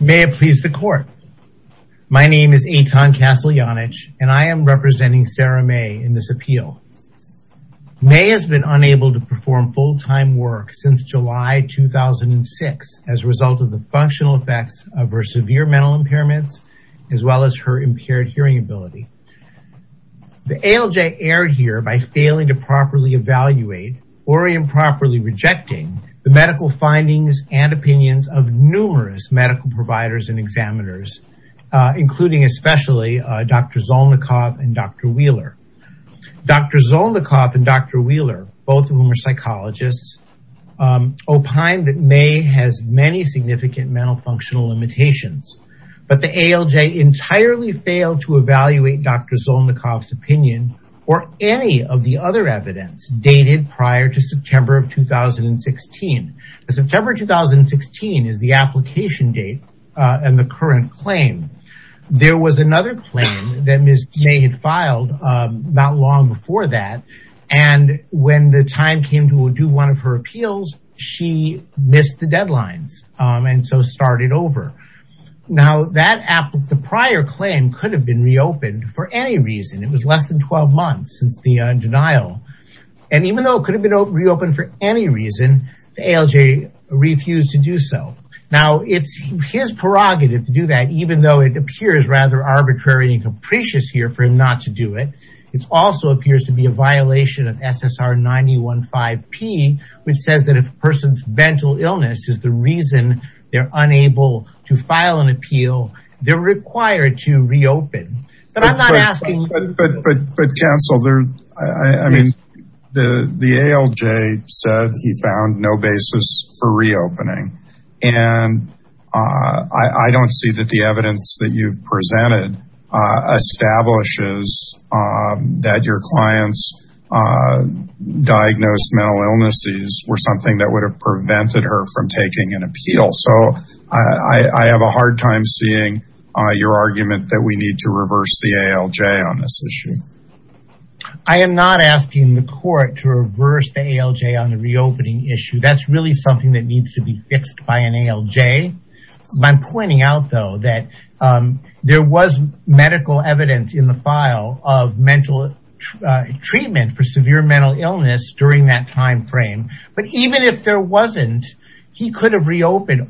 May it please the court. My name is Eitan Kasalyanich and I am representing Sarah May in this appeal. May has been unable to perform full-time work since July 2006 as a result of the functional effects of her severe mental impairments as well as her impaired hearing ability. The ALJ erred here by failing to properly evaluate or improperly rejecting the medical findings and opinions of numerous medical providers and examiners including especially Dr. Zolnikov and Dr. Wheeler. Dr. Zolnikov and Dr. Wheeler both of whom are psychologists opined that May has many significant mental functional limitations but the ALJ entirely failed to evaluate Dr. Zolnikov's opinion or any of the other evidence dated prior to September of 2016. September 2016 is the application date and the current claim. There was another claim that Ms. May had filed not long before that and when the time came to do one of her appeals she missed the deadlines and so started over. Now that prior claim could have been reopened for any reason. It was less than 12 months since the denial and even though it could have been reopened for any reason the ALJ refused to do so. Now it's his prerogative to do that even though it appears rather arbitrary and capricious here for him not to do it. It also appears to be a violation of SSR 915P which says that a person's mental illness is the reason they're unable to file an appeal. They're required to reopen. But counsel, the ALJ said he found no basis for reopening and I don't see that the evidence that you've presented establishes that your client's diagnosed mental illnesses were something that would have prevented her from taking an appeal. So I have a hard time seeing your argument that we need to reverse the ALJ on this issue. I am not asking the court to reverse the ALJ on the reopening issue. That's really something that needs to be fixed by an ALJ. I'm pointing out though that there was medical evidence in the file of mental treatment for severe mental illness during that time frame but even if there wasn't he could have reopened.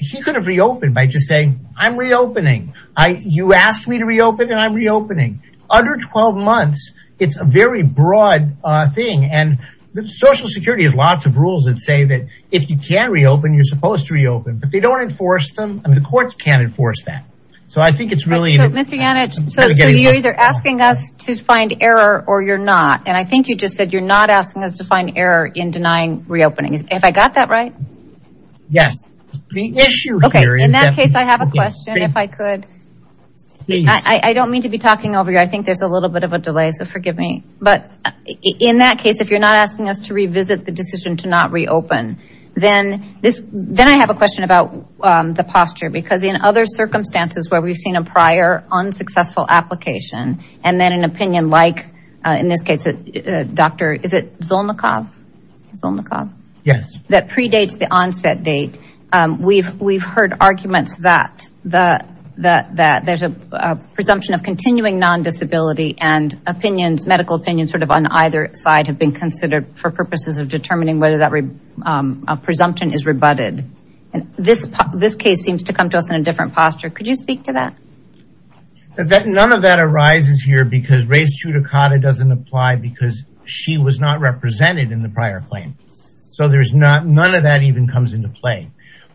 He could have reopened by just saying I'm reopening. You asked me to reopen and I'm reopening. Under 12 months, it's a very broad thing and Social Security has lots of rules that say that if you can reopen, you're supposed to reopen. But they don't enforce them. The courts can't enforce that. So I think it's really... So Mr. Yannich, you're either asking us to find error or you're not. And I think you just said you're not asking us to find error in denying reopening. Have I got that right? Yes. In that case, I have a question if I could. I don't mean to be talking over you. I think there's a little bit of a delay. So forgive me. But in that case, if you're not asking us to revisit the decision to not reopen, then I have a question about the posture. Because in other circumstances where we've seen a prior unsuccessful application and then an opinion like, in this case, Dr. Zolnikov, that predates the onset date, we've heard arguments that there's a presumption of continuing non-disability and medical opinions on either side have been considered for purposes of determining whether that presumption is rebutted. This case seems to come to us in a different posture. Could you speak to that? None of that arises here because race judicata doesn't apply because she was not represented in the prior claim. So none of that even comes into play.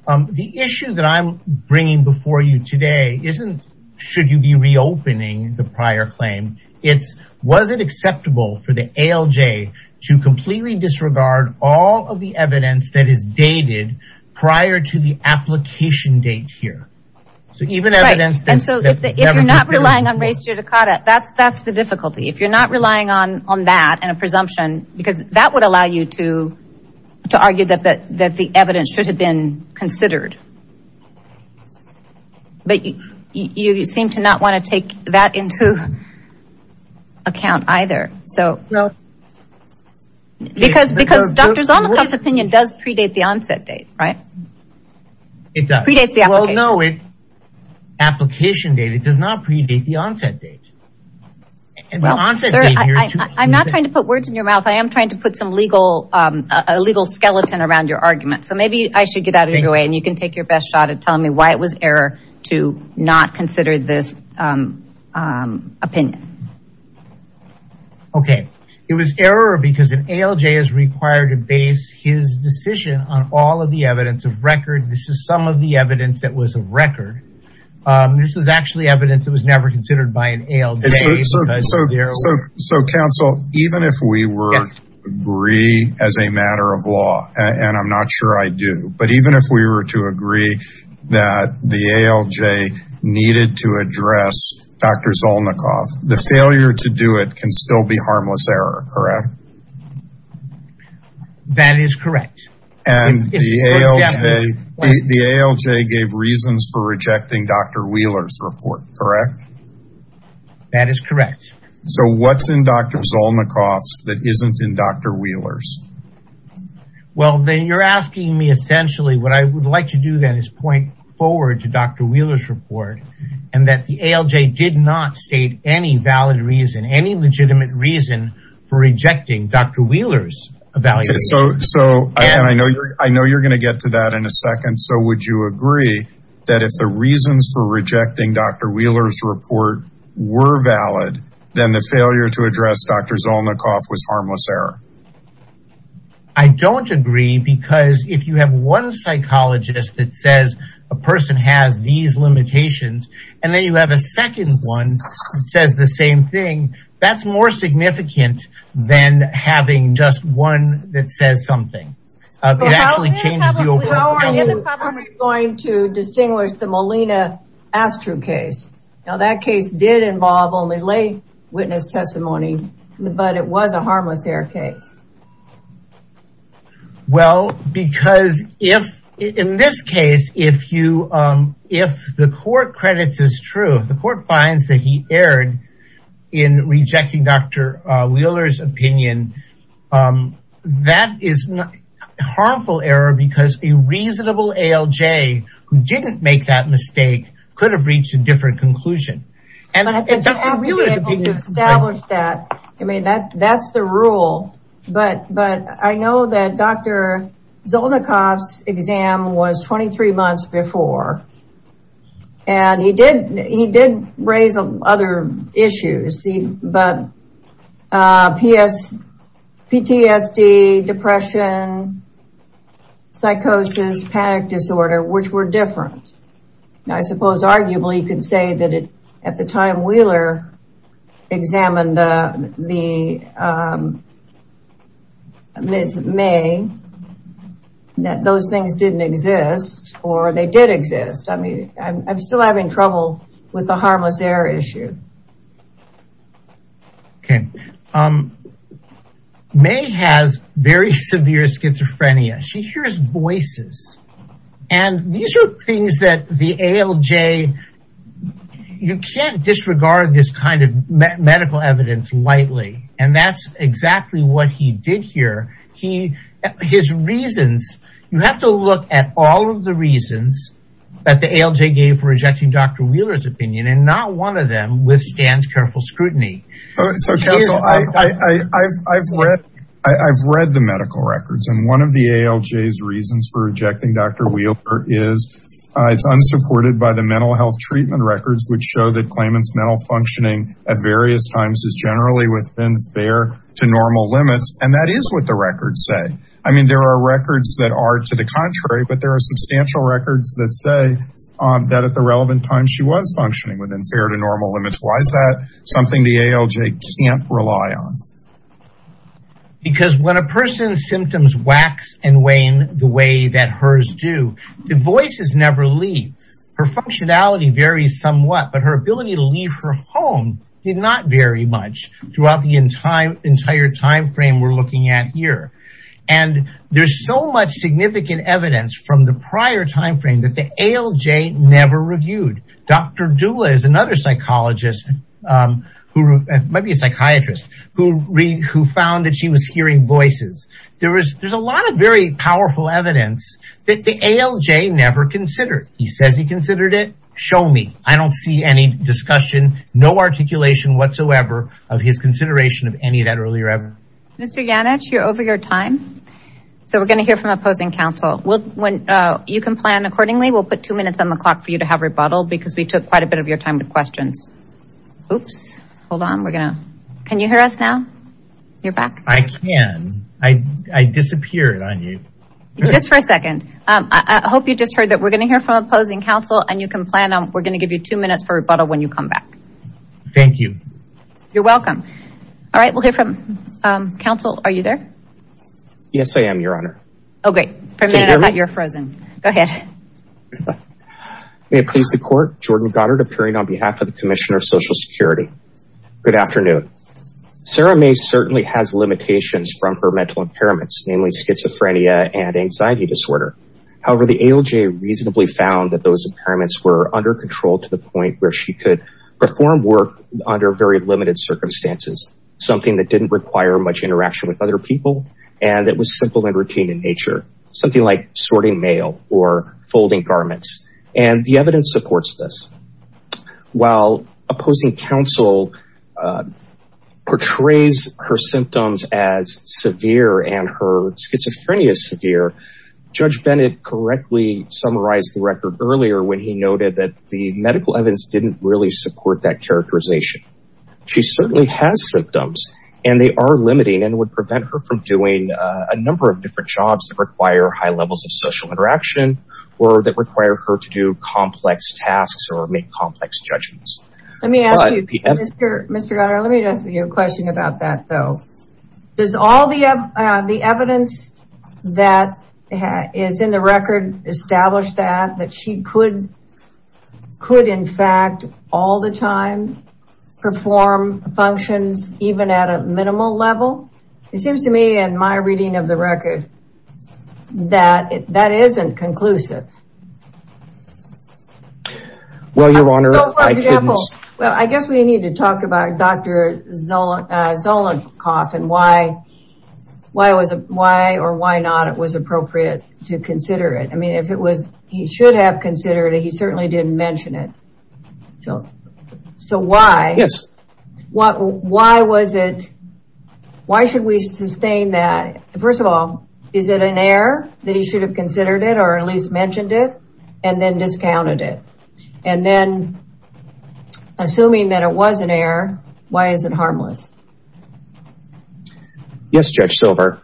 The issue that I'm bringing before you today isn't should you be reopening the prior claim. It's was it acceptable for the ALJ to completely disregard all of the evidence that is dated prior to the application date here? So even evidence... And so if you're not relying on race judicata, that's the difficulty. If you're not relying on that and a presumption, because that would allow you to argue that the evidence should have been considered. But you seem to not want to take that into account either. So... Because Dr. Zolnikov's opinion does predate the onset date, right? It does. Well, no. Application date. It does not predate the onset date. I'm not trying to put words in your mouth. I am trying to put some legal skeleton around your argument. So maybe I should get out of your way and you can take your best shot at telling me why it was error to not consider this opinion. Okay. It was error because an ALJ is required to base his decision on all of the evidence of record. This is some of the evidence that was a record. This was actually evidence that was never considered by an ALJ. So counsel, even if we were to agree as a matter of law, and I'm not sure I do, but even if we were to agree that the ALJ needed to address Dr. Zolnikov, the failure to do it can still be harmless error, correct? That is correct. And the ALJ gave reasons for rejecting Dr. Wheeler's report, correct? That is correct. So what's in Dr. Zolnikov's that isn't in Dr. Wheeler's? Well, then you're asking me essentially what I would like to do then is to point forward to Dr. Wheeler's report and that the ALJ did not state any valid reason, any legitimate reason for rejecting Dr. Wheeler's evaluation. So I know you're going to get to that in a second. So would you agree that if the reasons for rejecting Dr. Wheeler's report were valid, then the failure to address Dr. Zolnikov was harmless error? I don't agree because if you have one psychologist that says a person has these limitations and then you have a second one that says the same thing, that's more significant than having just one that says something. How are you going to distinguish the Molina Astru case? Now that case did involve only lay witness testimony, but it was a harmless error case. Well, because if in this case, if the court credits as true, the court finds that he erred in rejecting Dr. Wheeler's opinion, that is a harmful error because a reasonable ALJ who didn't make that mistake could have reached a different conclusion. I mean, that's the rule, but I know that Dr. Zolnikov's exam was 23 months before and he did raise other issues, but PTSD, depression, psychosis, panic disorder, which were different. Now, I suppose arguably you could say that at the time Wheeler examined the Ms. May, that those things didn't exist or they did exist. I mean, I'm still having trouble with the harmless error issue. Okay. May has very severe schizophrenia. She hears voices and these are things that the ALJ, you can't disregard this kind of medical evidence lightly and that's exactly what he did here. His reasons, you have to look at all of the reasons that the ALJ gave for rejecting Dr. Wheeler's opinion and not one of them withstands careful scrutiny. So counsel, I've read the medical records and one of the ALJ's reasons for rejecting Dr. Wheeler is it's unsupported by the mental health treatment records, which show that claimant's mental functioning at various times is generally within fair to normal limits and that is what the records say. I mean, there are records that are to the contrary, but there are substantial records that say that at the relevant time she was functioning within fair to normal limits. Why is that something the ALJ can't rely on? Because when a person's symptoms wax and wane the way that hers do, the voices never leave. Her functionality varies somewhat, but her ability to leave her home did not vary much throughout the entire timeframe we're looking at here. And there's so much significant evidence from the prior timeframe that the ALJ never reviewed. Dr. Dula is another psychologist, who might be a psychiatrist, who found that she was hearing voices. There's a lot of very powerful evidence that the ALJ never considered. He says he considered it. Show me. I don't see any discussion, no articulation whatsoever of his consideration of any of that earlier ever. Mr. Yannich, you're over your time. So we're going to hear from opposing counsel. You can plan accordingly. We'll put two minutes on the clock for you to have rebuttal because we took quite a bit of your time with questions. Can you hear us now? I can. I disappeared on you. Just for a second. I hope you just heard that we're going to hear from opposing counsel and you can plan. We're going to give you two minutes for rebuttal when you come back. Thank you. You're welcome. All right, we'll hear from counsel. Are you there? Yes, I am, your honor. Oh, great. For a minute I thought you were frozen. Go ahead. May it please the court, Jordan Goddard appearing on behalf of the Commissioner of Social Security. Good afternoon. Sarah May certainly has limitations from her mental impairments, namely schizophrenia and anxiety disorder. However, the ALJ reasonably found that those impairments were under control to the point where she could perform work under very limited circumstances, something that didn't require much interaction with other people and that was simple and and the evidence supports this. While opposing counsel portrays her symptoms as severe and her schizophrenia is severe, Judge Bennett correctly summarized the record earlier when he noted that the medical evidence didn't really support that characterization. She certainly has symptoms and they are limiting and would prevent her from doing a number of different jobs that require high levels of social interaction or that require her to do complex tasks or make complex judgments. Let me ask you, Mr. Goddard, let me ask you a question about that though. Does all the evidence that is in the record establish that that she could in fact all the time perform functions even at a minimal level? It seems to me in my reading of the record that that isn't conclusive. Well, your honor. Well, I guess we need to talk about Dr. Zolnikoff and why why was why or why not it was appropriate to consider it? I mean if it was he should have considered it. He certainly didn't mention it. So why? Yes. Why was it? Why should we sustain that? First of all, is it an error that he should have considered it or at least mentioned it and then discounted it and then assuming that it was an error, why is it harmless? Yes, Judge Silver.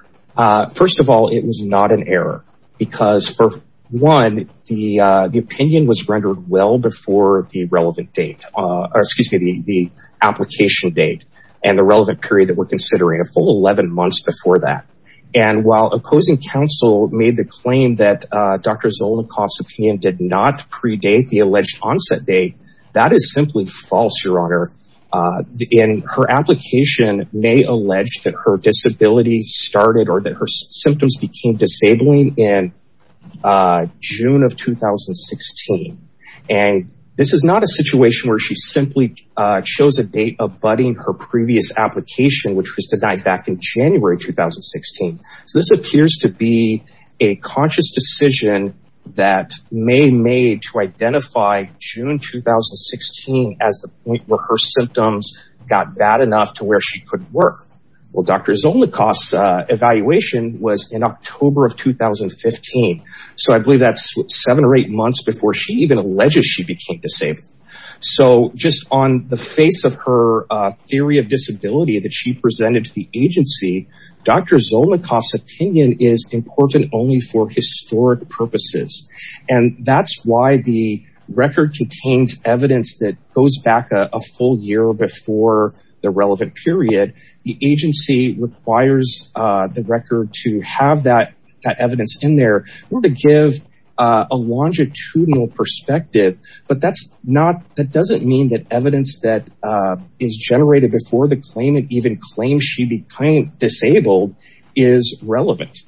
First of all, it was not an error because for one, the opinion was rendered well before the relevant date or excuse me the application date and the relevant period that we're considering a full 11 months before that. And while opposing counsel made the claim that Dr. Zolnikoff's opinion did not predate the alleged onset date, that is simply false, your honor. And her application may allege that her disability started or that her symptoms became disabling in June of 2016. And this is not a situation where she simply chose a date abutting her previous application which was denied back in January 2016. So this appears to be a conscious decision that May made to identify June 2016 as the point where her symptoms got bad enough to where she couldn't work. Well, Dr. Zolnikoff's evaluation was in October of 2015. So I believe that's seven or eight months before she even alleges she became disabled. So just on the face of her theory of disability that she presented to the agency, Dr. Zolnikoff's opinion is important only for historic purposes. And that's why the record contains evidence that goes back a full year before the relevant period. The agency requires the record to have that evidence in there or to give a longitudinal perspective. But that doesn't mean that evidence that is generated before the time she became disabled is relevant.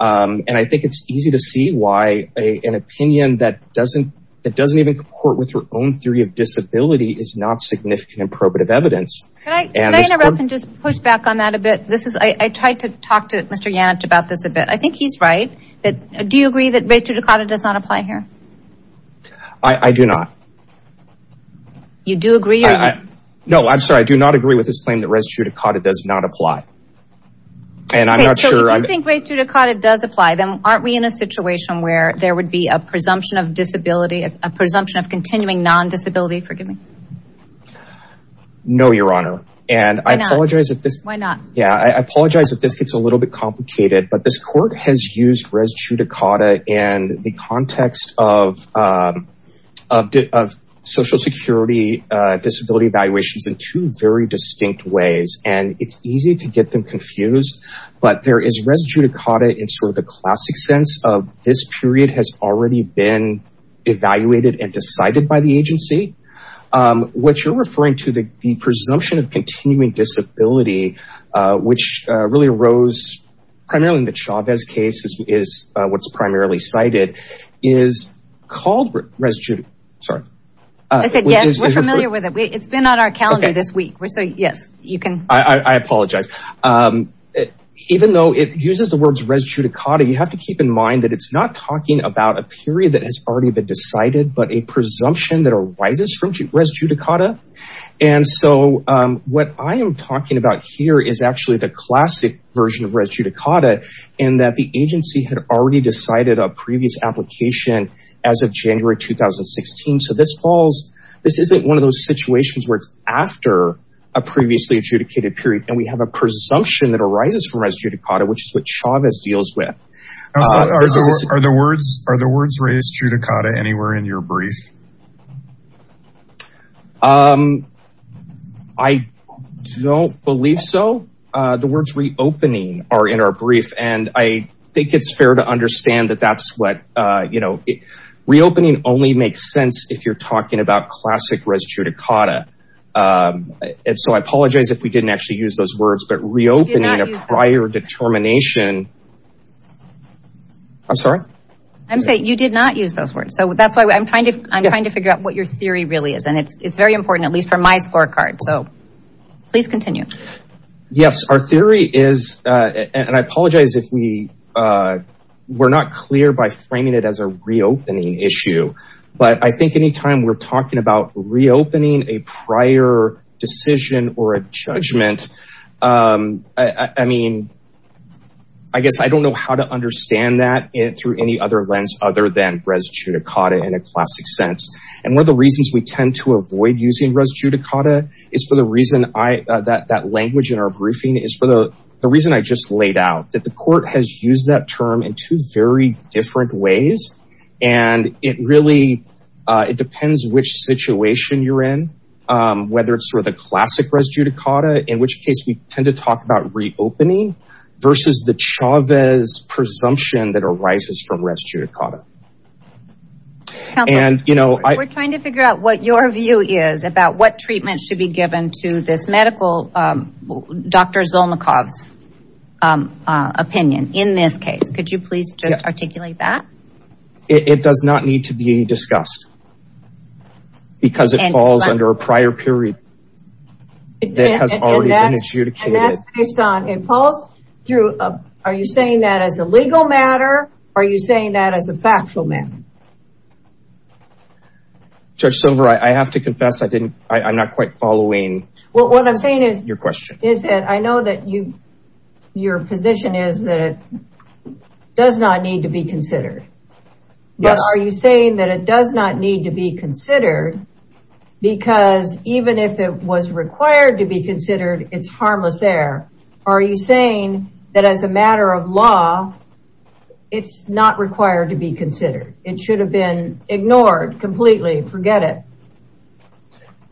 And I think it's easy to see why an opinion that doesn't even comport with her own theory of disability is not significant and probative evidence. Can I interrupt and just push back on that a bit? I tried to talk to Mr. Yannich about this a bit. I think he's right. Do you agree that res judicata does not apply here? I do not. You do agree? No, I'm sorry. I do not agree with this claim that res judicata does not apply. And I'm not sure. So if you think res judicata does apply, then aren't we in a situation where there would be a presumption of disability, a presumption of continuing non-disability? Forgive me. No, Your Honor. And I apologize if this gets a little bit complicated, but this court has used res judicata in the context of social security disability evaluations in two very distinct ways. And it's easy to get them confused. But there is res judicata in sort of the classic sense of this period has already been evaluated and decided by the agency. What you're referring to, the presumption of continuing disability, which really arose primarily in the Chavez case is what's primarily cited, is called res judicata. I said yes, we're familiar with it. It's been on our calendar this week. So yes, you can. I apologize. Even though it uses the words res judicata, you have to keep in mind that it's not talking about a period that has already been evaluated. So what I am talking about here is actually the classic version of res judicata in that the agency had already decided a previous application as of January 2016. So this falls, this isn't one of those situations where it's after a previously adjudicated period and we have a presumption that arises from res judicata, which is what Chavez deals with. Are the words res judicata anywhere in your brief? I don't believe so. The words reopening are in our brief and I think it's fair to understand that that's what, you know, reopening only makes sense if you're talking about classic res judicata. And so I apologize if we didn't actually use those words, but reopening a prior determination. I'm sorry? I'm saying you did not use those words. So that's why I'm trying to, I'm trying to figure out what your theory really is. And it's, it's very important, at least for my scorecard. So please continue. Yes, our theory is, and I apologize if we were not clear by framing it as a reopening issue, but I think anytime we're talking about reopening a prior decision or a judgment, I mean, I guess I don't know how to understand that through any other lens other than res judicata in a classic sense. And one of the reasons we is for the reason that language in our briefing is for the reason I just laid out that the court has used that term in two very different ways. And it really, it depends which situation you're in, whether it's sort of the classic res judicata, in which case we tend to talk about reopening versus the Chavez presumption that arises from res judicata. We're trying to figure out what your view is about what treatment should be given to this medical, Dr. Zolnikov's opinion in this case. Could you please just articulate that? It does not need to be discussed because it falls under a prior period that has already been adjudicated. And that's based on, and Paul's through, are you saying that as a legal matter? Are you saying that as a factual matter? Judge Silver, I have to confess. I didn't, I'm not quite following. Well, what I'm saying is your question is that I know that you, your position is that it does not need to be considered, but are you saying that it does not need to be considered because even if it was required to be considered, it's harmless air? Are you saying that as a matter of law, it's not required to be considered? It should have been ignored completely. Forget it.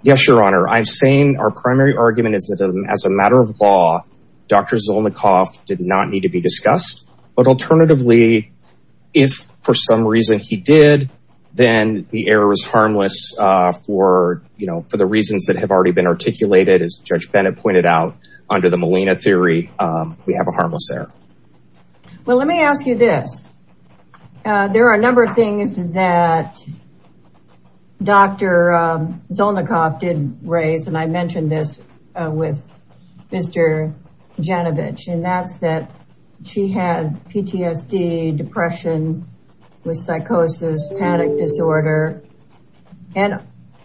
Yes, Your Honor. I'm saying our primary argument is that as a matter of law, Dr. Zolnikov did not need to be discussed, but alternatively, if for some reason he did, then the air was harmless for, you know, for the reasons that have already been articulated, as Judge Bennett pointed out under the Molina theory, we have a harmless air. Well, let me ask you this. There are a number of things that Dr. Zolnikov did raise. And I mentioned this with Mr. Janevich, and that's that she had PTSD, depression with psychosis, panic disorder. And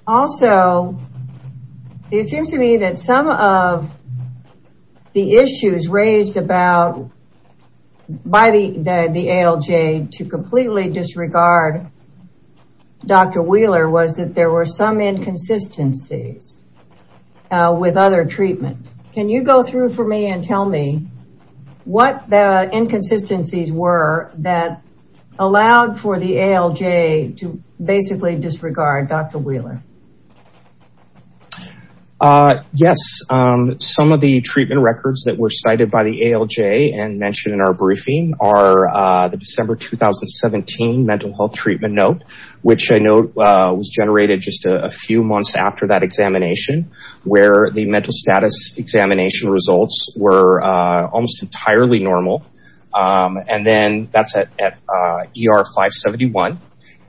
also it seems to me that some of the issues raised about by the ALJ to completely disregard Dr. Wheeler was that there were some inconsistencies with other treatment. Can you go through for me and tell me what the inconsistencies were that allowed for the ALJ to basically disregard Dr. Wheeler? Yes. Some of the treatment records that were cited by the ALJ and mentioned in our briefing are the December 2017 mental health treatment note, which I know was generated just a few months after that examination, where the mental status examination results were almost entirely normal. And then that's at ER 571.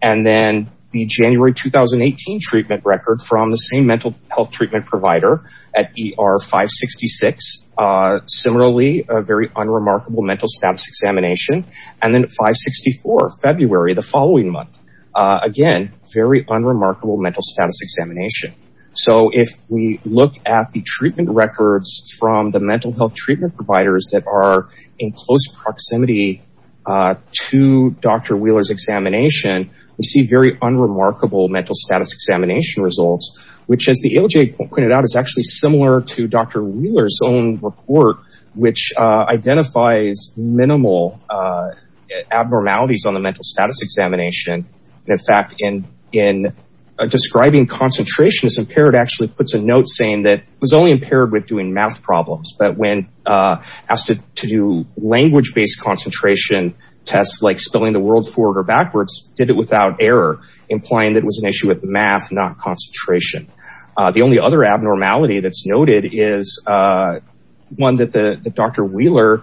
And then the January 2018 treatment record from the same mental health treatment provider at ER 566. Similarly, a very unremarkable mental status examination. And then at 564, February, the following month, again, very unremarkable mental status examination. So if we look at the treatment records from the mental health providers that are in close proximity to Dr. Wheeler's examination, we see very unremarkable mental status examination results, which as the ALJ pointed out, is actually similar to Dr. Wheeler's own report, which identifies minimal abnormalities on the mental status examination. And in fact, in describing concentration as impaired actually puts a note saying that it was only impaired with doing math problems, but when asked to do language-based concentration tests, like spilling the world forward or backwards, did it without error, implying that it was an issue with math, not concentration. The only other abnormality that's noted is one that Dr. Wheeler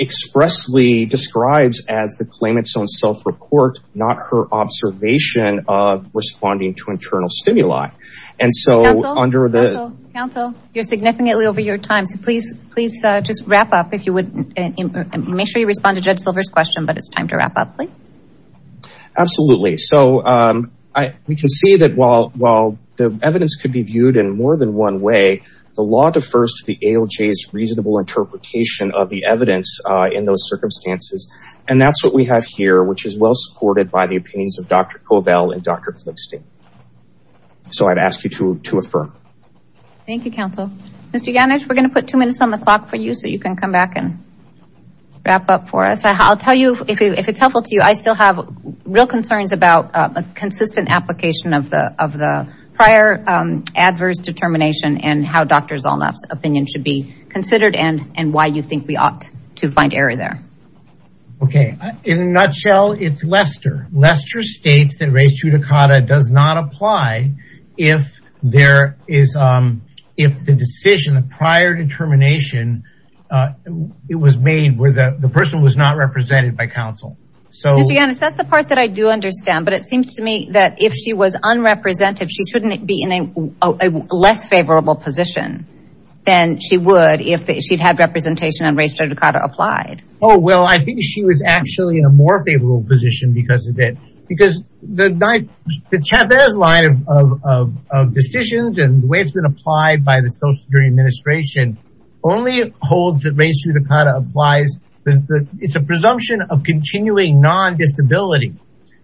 expressly describes as the claimant's own self-report, not her observation of responding to internal stimuli. And so under the... Counsel, you're significantly over your time, so please just wrap up if you would. Make sure you respond to Judge Silver's question, but it's time to wrap up, please. Absolutely. So we can see that while the evidence could be viewed in more than one way, the law defers to the ALJ's reasonable interpretation of the evidence in those circumstances. And that's what we have here, which is well supported by the opinions of Dr. Kovell and Dr. Flickstein. So I'd ask you to affirm. Thank you, counsel. Mr. Yannich, we're going to put two minutes on the clock for you, so you can come back and wrap up for us. I'll tell you, if it's helpful to you, I still have real concerns about a consistent application of the prior adverse determination and how Dr. Zolnaff's opinion should be considered and why you think we ought to find error there. Okay. In a nutshell, it's Lester. Lester states that res judicata does not apply if the decision, the prior determination, it was made where the person was not represented by counsel. So... Mr. Yannich, that's the part that I do understand, but it seems to me that if she was unrepresentative, she shouldn't be in a less favorable position than she would if she'd had representation and res judicata applied. Oh, well, I think she was actually in a more favorable position because of it, because the Chavez line of decisions and the way it's been applied by the Social Security Administration only holds that res judicata applies, it's a presumption of continuing non-disability.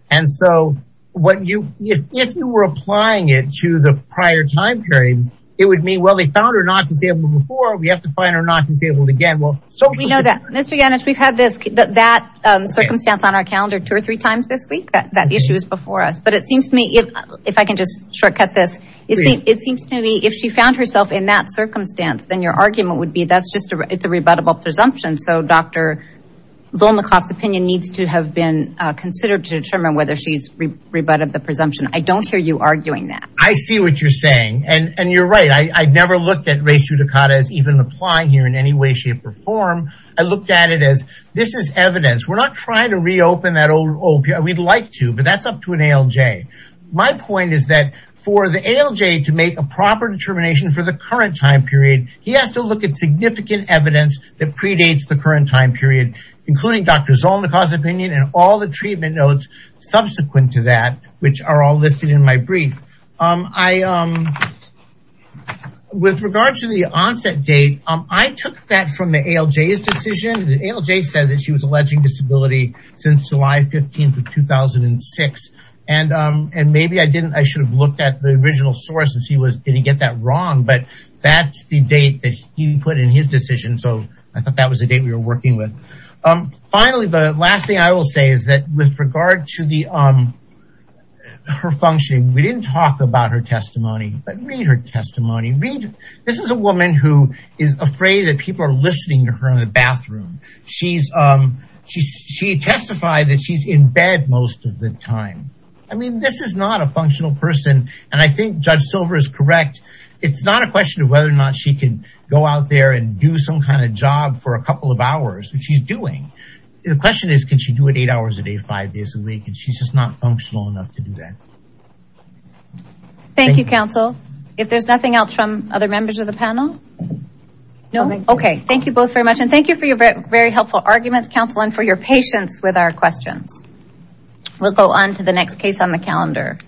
And so, if you were applying it to the prior time period, it would mean, well, they found her not disabled before, we have to find her not disabled again. Well, we know that. Mr. Yannich, we've had this, that circumstance on our calendar two or three times this week, that issue is before us. But it seems to me, if I can just shortcut this, it seems to me if she found herself in that circumstance, then your argument would be it's a rebuttable presumption. So Dr. Zolnikoff's opinion needs to have been considered to determine whether she's rebutted the presumption. I don't hear you arguing that. I see what you're saying. And you're right. I never looked at res judicata as even applying here in any way, shape, or form. I looked at it as this is evidence. We're not trying to reopen that old period. We'd like to, but that's up to an ALJ. My point is that for the ALJ to make a evidence that predates the current time period, including Dr. Zolnikoff's opinion and all the treatment notes subsequent to that, which are all listed in my brief, with regard to the onset date, I took that from the ALJ's decision. The ALJ said that she was alleging disability since July 15th of 2006. And maybe I didn't, I should have looked at the original source she was, did he get that wrong? But that's the date that he put in his decision. So I thought that was the date we were working with. Finally, the last thing I will say is that with regard to her function, we didn't talk about her testimony, but read her testimony. This is a woman who is afraid that people are listening to her in the bathroom. She testified that she's in bed most of the time. I mean, this is not a functional person. And I think Judge Silver is correct. It's not a question of whether or not she can go out there and do some kind of job for a couple of hours, which she's doing. The question is, can she do it eight hours a day, five days a week? And she's just not functional enough to do that. Thank you, counsel. If there's nothing else from other members of the panel? No. Okay. Thank you both very much. And thank you for your very helpful arguments, counsel, and for your patience with our questions. We'll go on to the next case on the calendar.